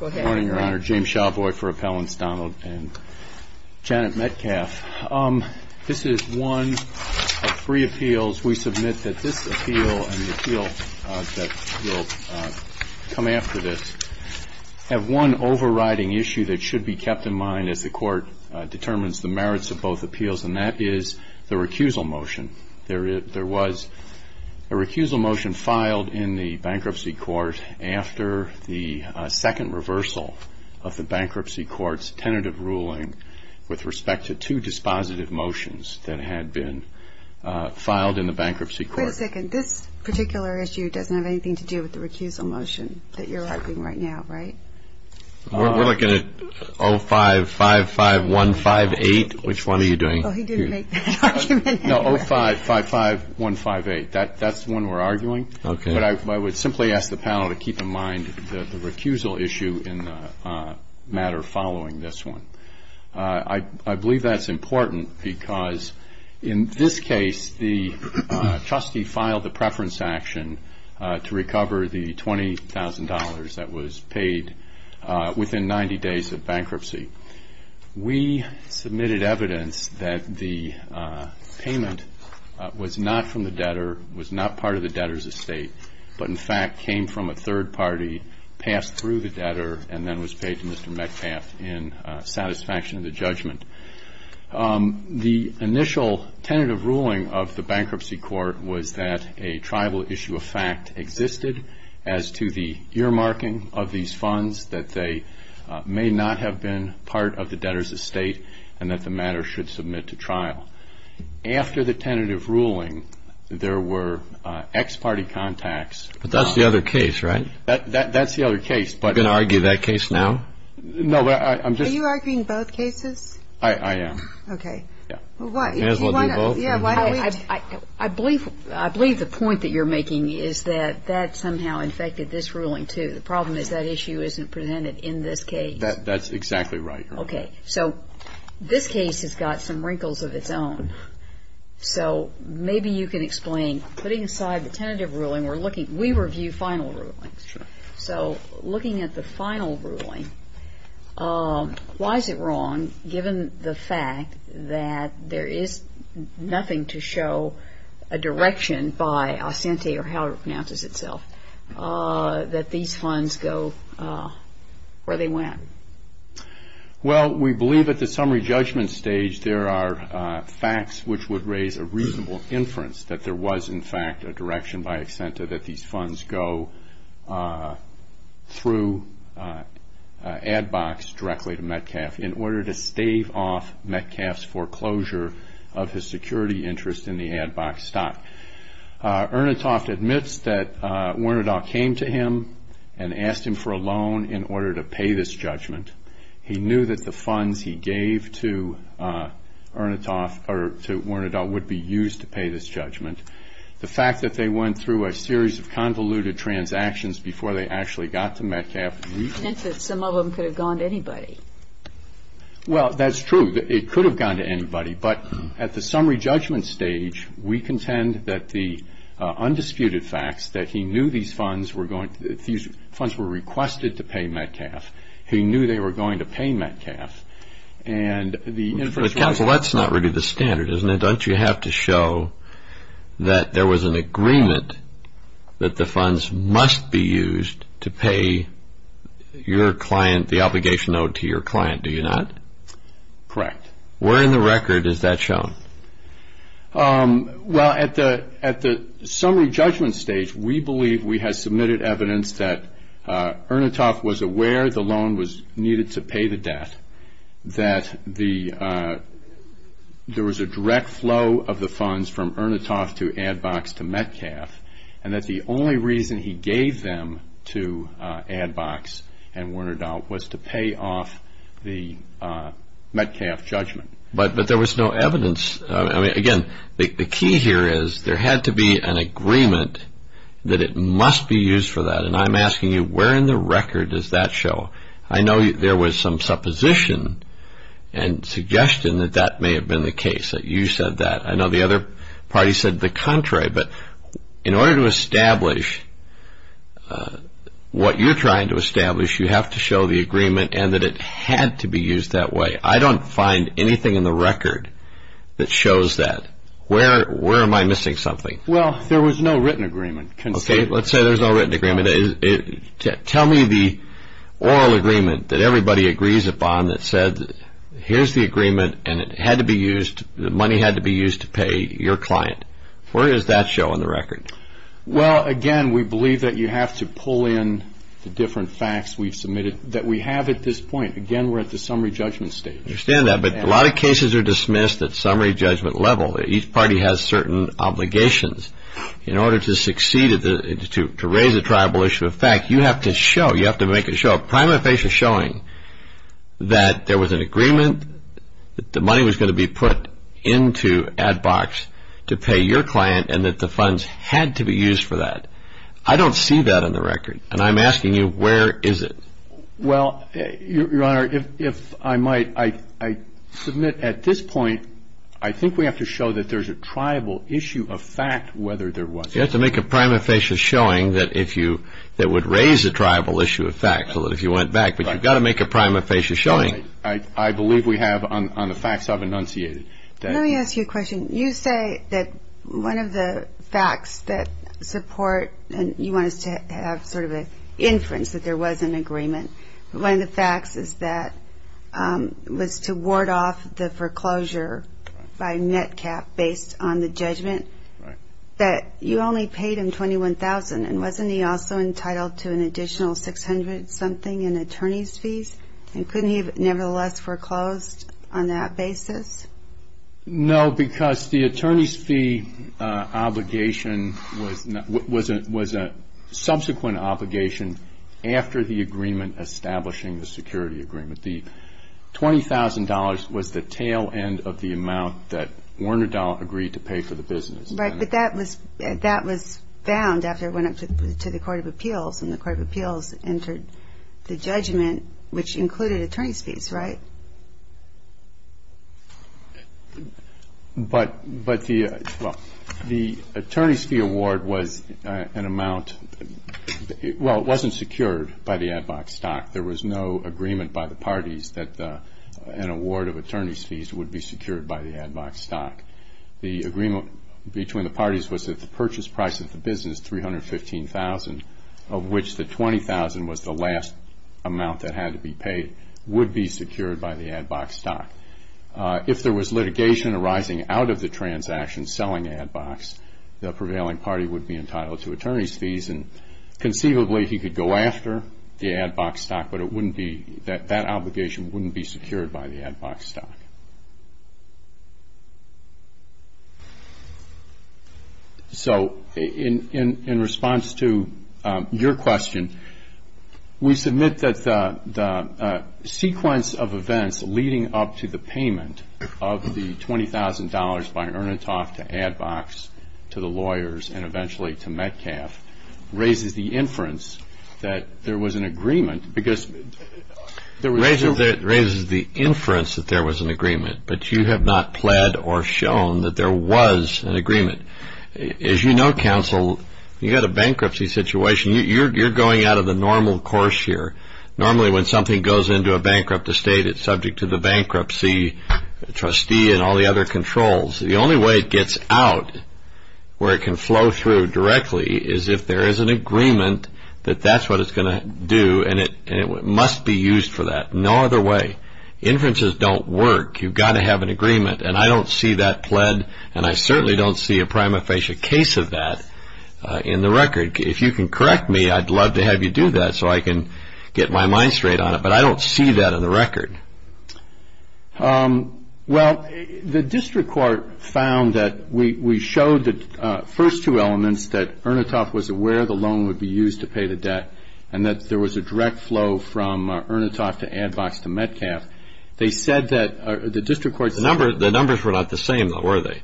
Morning, Your Honor. James Shawboy for Appellants Donald and Janet Metcalf. This is one of three appeals. We submit that this appeal and the appeal that will come after this have one overriding issue that should be kept in mind as the Court determines the merits of both appeals and that is the recusal motion. There was a recusal motion filed in the bankruptcy court after the second reversal of the bankruptcy court's tentative ruling with respect to two dispositive motions that had been filed in the bankruptcy court. Wait a second. This particular issue doesn't have anything to do with the recusal motion that you're arguing right now, right? We're looking at 0555158. Which one are you doing? Oh, he didn't make it. I would ask the panel to keep in mind the recusal issue in the matter following this one. I believe that's important because in this case, the trustee filed the preference action to recover the $20,000 that was paid within 90 days of bankruptcy. We submitted evidence that the payment was not from the debtor, was not part of the debtor's estate, but in fact came from a third party, passed through the debtor, and then was paid to Mr. Metcalf in satisfaction of the judgment. The initial tentative ruling of the bankruptcy court was that a tribal issue of fact existed as to the earmarking of these funds, that they may not have been part of the debtor's estate, and that the matter should submit to trial. After the tentative ruling, there were ex-party contacts. But that's the other case, right? That's the other case. Are you going to argue that case now? No, I'm just Are you arguing both cases? I am. Okay. May as well do both. Yeah, why don't we? I believe the point that you're making is that that somehow infected this ruling, too. The problem is that issue isn't presented in this case. That's exactly right, Your Honor. Okay. So this case has got some wrinkles of its own. So maybe you can explain, putting aside the tentative ruling, we're looking, we review final rulings. So looking at the final ruling, why is it wrong, given the fact that there is nothing to show a direction by Asante or however it pronounces itself, that these funds go where they went? Well, we believe at the summary judgment stage, there are facts which would raise a reasonable inference that there was, in fact, a direction by Asante that these funds go through Adbox directly to Metcalfe in order to stave off Metcalfe's foreclosure of his security interest in the Adbox stock. Ernsthoff admits that Werner Dahl came to him and asked him for this judgment. He knew that the funds he gave to Werner Dahl would be used to pay this judgment. The fact that they went through a series of convoluted transactions before they actually got to Metcalfe, we think that some of them could have gone to anybody. Well, that's true. It could have gone to anybody. But at the summary judgment stage, we contend that the undisputed facts that he knew these funds were going, these funds were requested to pay Metcalfe. He knew they were going to pay Metcalfe. And for the counsel, that's not really the standard, isn't it? Don't you have to show that there was an agreement that the funds must be used to pay your client, the obligation owed to your client, do you not? Correct. Where in the record is that shown? Well, at the summary judgment stage, we believe we had submitted evidence that Ernsthoff was aware the loan was needed to pay the debt, that there was a direct flow of the funds from Ernsthoff to Adbox to Metcalfe, and that the only reason he gave them to Adbox and Werner Dahl was to pay off the Metcalfe judgment. But there was no evidence. I mean, again, the key here is there had to be an agreement that it must be used for that. And I'm asking you, where in the record does that show? I know there was some supposition and suggestion that that may have been the case, that you said that. I know the other party said the contrary. But in order to establish what you're trying to establish, you have to show the agreement and that it had to be used that way. I don't find anything in the record that shows that. Where am I missing something? Well, there was no written agreement. Okay, let's say there's no written agreement. Tell me the oral agreement that everybody agrees upon that said, here's the agreement, and it had to be used, the money had to be used to pay your client. Where does that show in the record? Well, again, we believe that you have to pull in the different facts we've submitted that we have at this point. Again, we're at the summary judgment stage. I understand that. But a lot of cases are dismissed at summary judgment level. Each party has certain obligations. In order to succeed, to raise the tribal issue of fact, you have to show, you have to make it show, a prima facie showing that there was an agreement, the money was going to be put into ad box to pay your client, and that the funds had to be used for that. I don't see that in the record. And I'm asking you, where is it? Well, Your Honor, if I might, I submit at this point, I think we have to show that there's a tribal issue of fact, whether there was. You have to make a prima facie showing that if you, that would raise the tribal issue of fact, so that if you went back. But you've got to make a prima facie showing. I believe we have on the facts I've enunciated. Let me ask you a question. You say that one of the facts that support, and you want us to have sort of an inference that there was an agreement, but one of the facts is that it was to ward off the foreclosure by net cap based on the judgment, that you only paid him $21,000, and wasn't he also entitled to an additional $600 something in attorney's fees? And couldn't he have nevertheless foreclosed on that basis? No, because the attorney's fee obligation was a subsequent obligation after the agreement establishing the security agreement. The $20,000 was the tail end of the amount that Werner Dahl agreed to pay for the business. Right, but that was found after it went up to the Court of Appeals, and the Court of Appeals. But the, well, the attorney's fee award was an amount, well, it wasn't secured by the ad box stock. There was no agreement by the parties that an award of attorney's fees would be secured by the ad box stock. The agreement between the parties was that the purchase price of the business, $315,000, of which the $20,000 was the last amount that had to be paid, would be secured by the ad box stock. If there was litigation arising out of the transaction selling ad box, the prevailing party would be entitled to attorney's fees, and conceivably he could go after the ad box stock, but it wouldn't be, that obligation wouldn't be secured by the ad box stock. So, in response to your question, we submit that the sequence of events leading up to the payment of the $20,000 by Ernatov to ad box, to the lawyers, and eventually to Metcalf, raises the inference that there was an agreement, because there was two- side agreement, but you have not pled or shown that there was an agreement. As you know, counsel, you had a bankruptcy situation. You're going out of the normal course here. Normally when something goes into a bankrupt estate, it's subject to the bankruptcy trustee and all the other controls. The only way it gets out where it can flow through directly is if there is an agreement that that's what it's going to do, and it must be used for that. No other way. Inferences don't work. You've got to have an agreement, and I don't see that pled, and I certainly don't see a prima facie case of that in the record. If you can correct me, I'd love to have you do that so I can get my mind straight on it, but I don't see that in the record. Well, the district court found that we showed the first two elements, that Ernatov was aware the loan would be used to pay the debt, and that there was a direct flow from Ernatov to Advox to Metcalf. They said that the district court... The numbers were not the same, though, were they?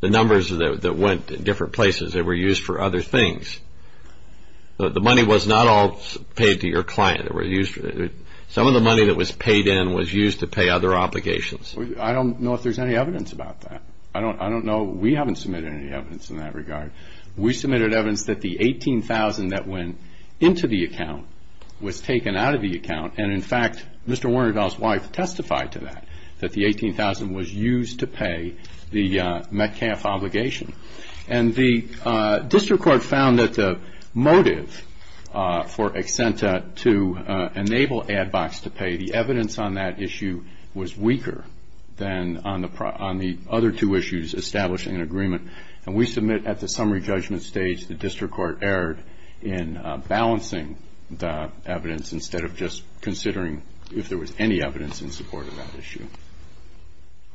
The numbers that went to different places, they were used for other things. The money was not all paid to your client. Some of the money that was paid in was used to pay other obligations. I don't know if there's any evidence about that. I don't know. We haven't submitted any evidence that the $18,000 that went into the account was taken out of the account, and in fact, Mr. Warnerdahl's wife testified to that, that the $18,000 was used to pay the Metcalf obligation. The district court found that the motive for Exenta to enable Advox to pay, the evidence on that issue was weaker than on the other two issues establishing an agreement. We submit at the summary judgment stage, the district court erred in balancing the evidence instead of just considering if there was any evidence in support of that issue.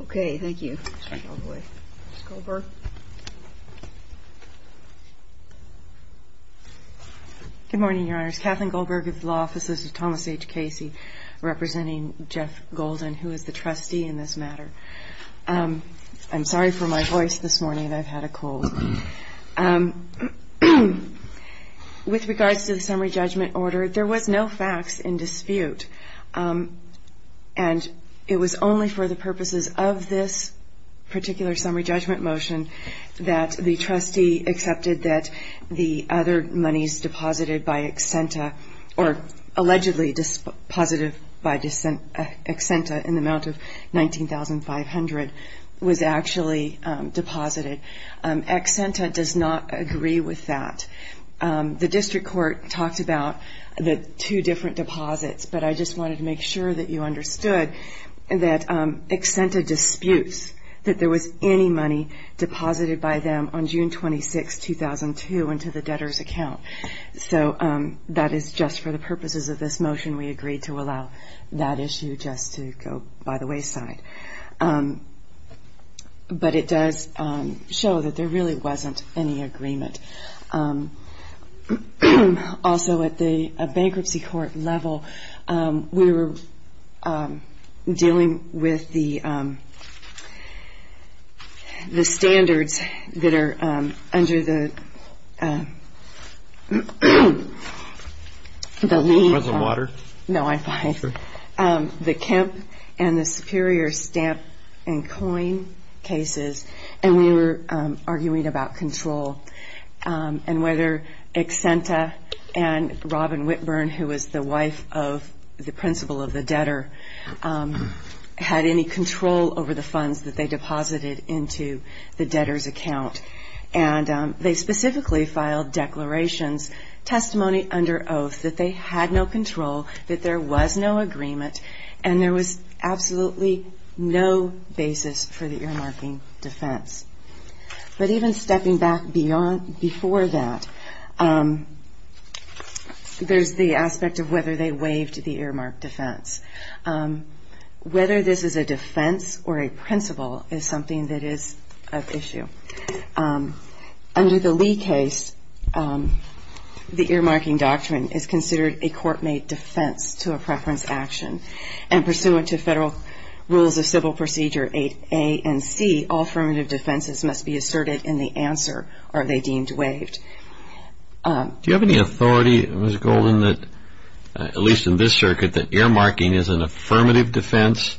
Okay. Thank you. Ms. Goldberg. Good morning, Your Honors. Kathleen Goldberg of the Law Office. This is Thomas H. Casey representing Jeff Golden, who is the trustee in this matter. I'm sorry for my voice this morning. With regards to the summary judgment order, there was no facts in dispute, and it was only for the purposes of this particular summary judgment motion that the trustee accepted that the other monies deposited by Exenta, or allegedly deposited by Exenta in the amount of $19,500, was actually deposited. Exenta does not agree with that. The district court talked about the two different deposits, but I just wanted to make sure that you understood that Exenta disputes that there was any money deposited by them on June 26, 2002 into the debtor's account. So that is just for the purposes of this motion. We agreed to allow that issue just to go by the wayside. But it does show that there really wasn't any agreement. Also, at the bankruptcy court level, we were dealing with the standards that are under the lease. Do you want some water? No, I'm fine. The Kemp and the Superior Stamp and Coin cases, and we were arguing about control and whether Exenta and Robin Whitburn, who was the wife of the principal of the debtor, had any control over the funds that they deposited into the debtor's account. And they specifically filed declarations, testimony under oath that they had no control, that there was no agreement, and there was absolutely no basis for the earmarking defense. But even stepping back before that, there's the aspect of whether they waived the earmark defense. Whether this is a defense or a principal is something that is of issue. Under the Lee case, the earmarking doctrine is considered a court-made defense to a preference action. And pursuant to Federal Rules of Civil Procedure 8A and C, all affirmative defenses must be asserted in the answer, are they deemed waived. Do you have any authority, Ms. Golden, that, at least in this circuit, that earmarking is an affirmative defense,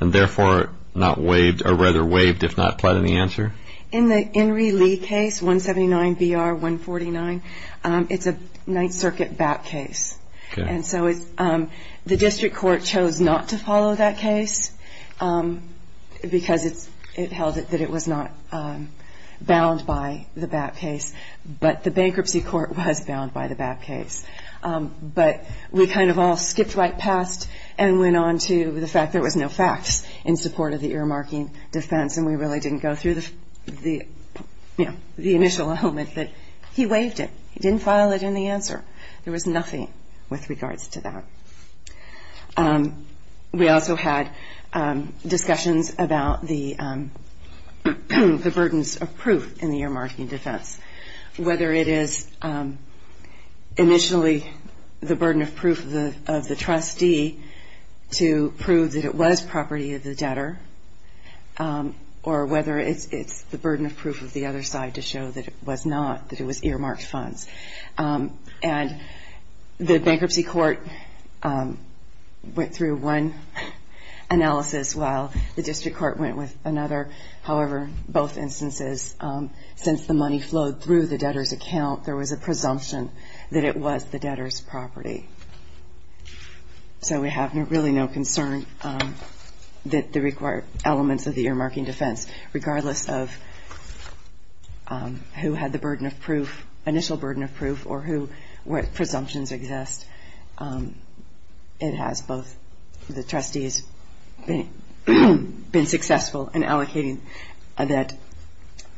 and therefore not waived, or rather waived if not applied in the answer? In the Henry Lee case, 179BR149, it's a Ninth Circuit BAP case. And so the district court chose not to follow that case, because it held that it was not bound by the BAP case. But the bankruptcy court was bound by the BAP case. But we kind of all skipped right past and went on to the fact that there was no facts in support of the earmarking defense, and we really didn't go through the initial element that he waived it. He didn't file it in the answer. There was nothing with regards to that. We also had discussions about the burdens of proof in the earmarking defense, whether it is initially the burden of proof of the trustee to prove that it was property of the or whether it's the burden of proof of the other side to show that it was not, that it was earmarked funds. And the bankruptcy court went through one analysis while the district court went with another. However, both instances, since the money flowed through the debtor's account, there was a presumption that it was the debtor's property. So we have really no concern that the required elements of the earmarking defense, regardless of who had the burden of proof, initial burden of proof, or who, what presumptions exist. It has both the trustees been successful in allocating that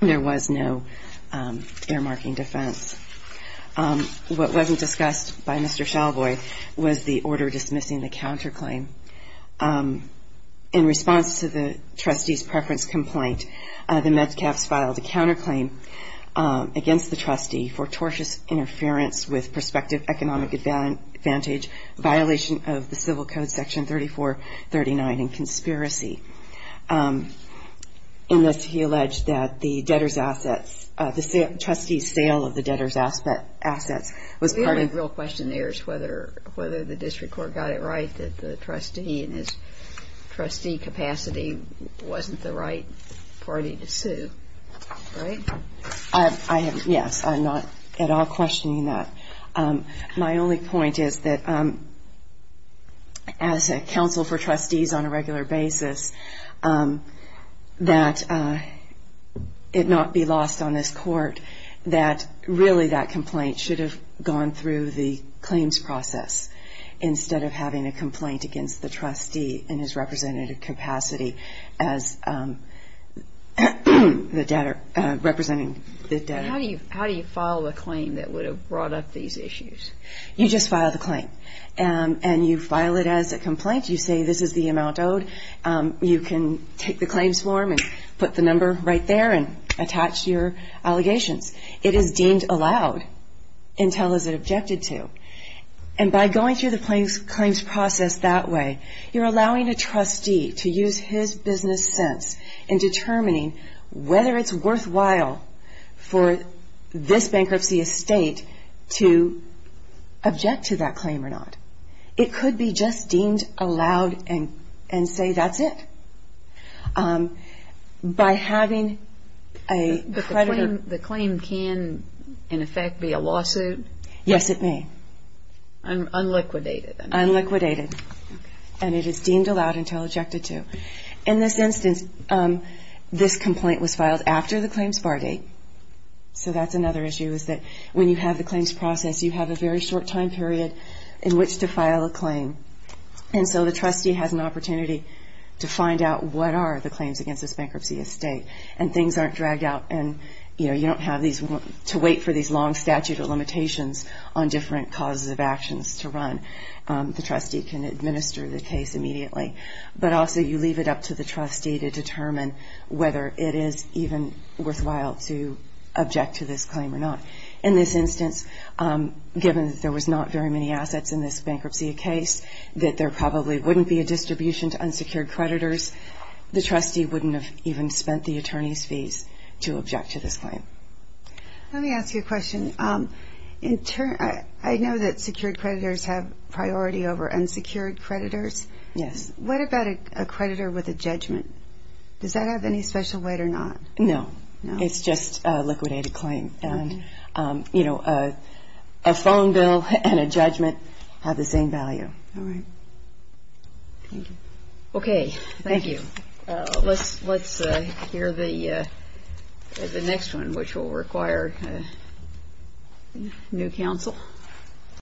there was no earmarking defense. What wasn't discussed by Mr. Shalvoy was the order dismissing the counterclaim. In response to the trustee's preference complaint, the Medcaps filed a counterclaim against the trustee for tortious interference with prospective economic advantage, violation of the Civil Code Section 3439, and conspiracy. In this, he alleged that the debtor's assets, the total of the debtor's assets, was part of... Do you have real questionnaires whether the district court got it right that the trustee in his trustee capacity wasn't the right party to sue? Right? I have, yes. I'm not at all questioning that. My only point is that as a counsel for trustees on a regular basis, that it not be lost on this court that the trustee's ability to really that complaint should have gone through the claims process instead of having a complaint against the trustee in his representative capacity as the debtor, representing the debtor. How do you file a claim that would have brought up these issues? You just file the claim, and you file it as a complaint. You say this is the amount owed. You can take the claims form and put the number right there and attach your allegations. It is deemed allowed until it is objected to. And by going through the claims process that way, you're allowing a trustee to use his business sense in determining whether it's worthwhile for this bankruptcy estate to object to that claim or not. It could be just deemed allowed and say that's it. By having a creditor... The claim can, in effect, be a lawsuit? Yes, it may. Unliquidated? Unliquidated. And it is deemed allowed until objected to. In this instance, this complaint was filed after the claims bar date. So that's another issue is that when you have the claims process, you have a very short time period in which to file a claim. And so the trustee has an opportunity to find out what are the claims against this bankruptcy estate. And things aren't dragged out and you don't have to wait for these long statute of limitations on different causes of actions to run. The trustee can administer the case immediately. But also you leave it up to the trustee to determine whether it is even worthwhile to object to this claim or not. In this instance, given that there was not very many assets in this bankruptcy case, that there probably wouldn't be a distribution to unsecured creditors, the trustee wouldn't have even spent the attorney's fees to object to this claim. Let me ask you a question. I know that secured creditors have priority over unsecured creditors. What about a creditor with a judgment? Does that have any special weight or not? No. It's just a liquidated claim. And a phone bill and a judgment have the same value. All right. Thank you. Okay. Thank you. Let's hear the next one, which will require new counsel.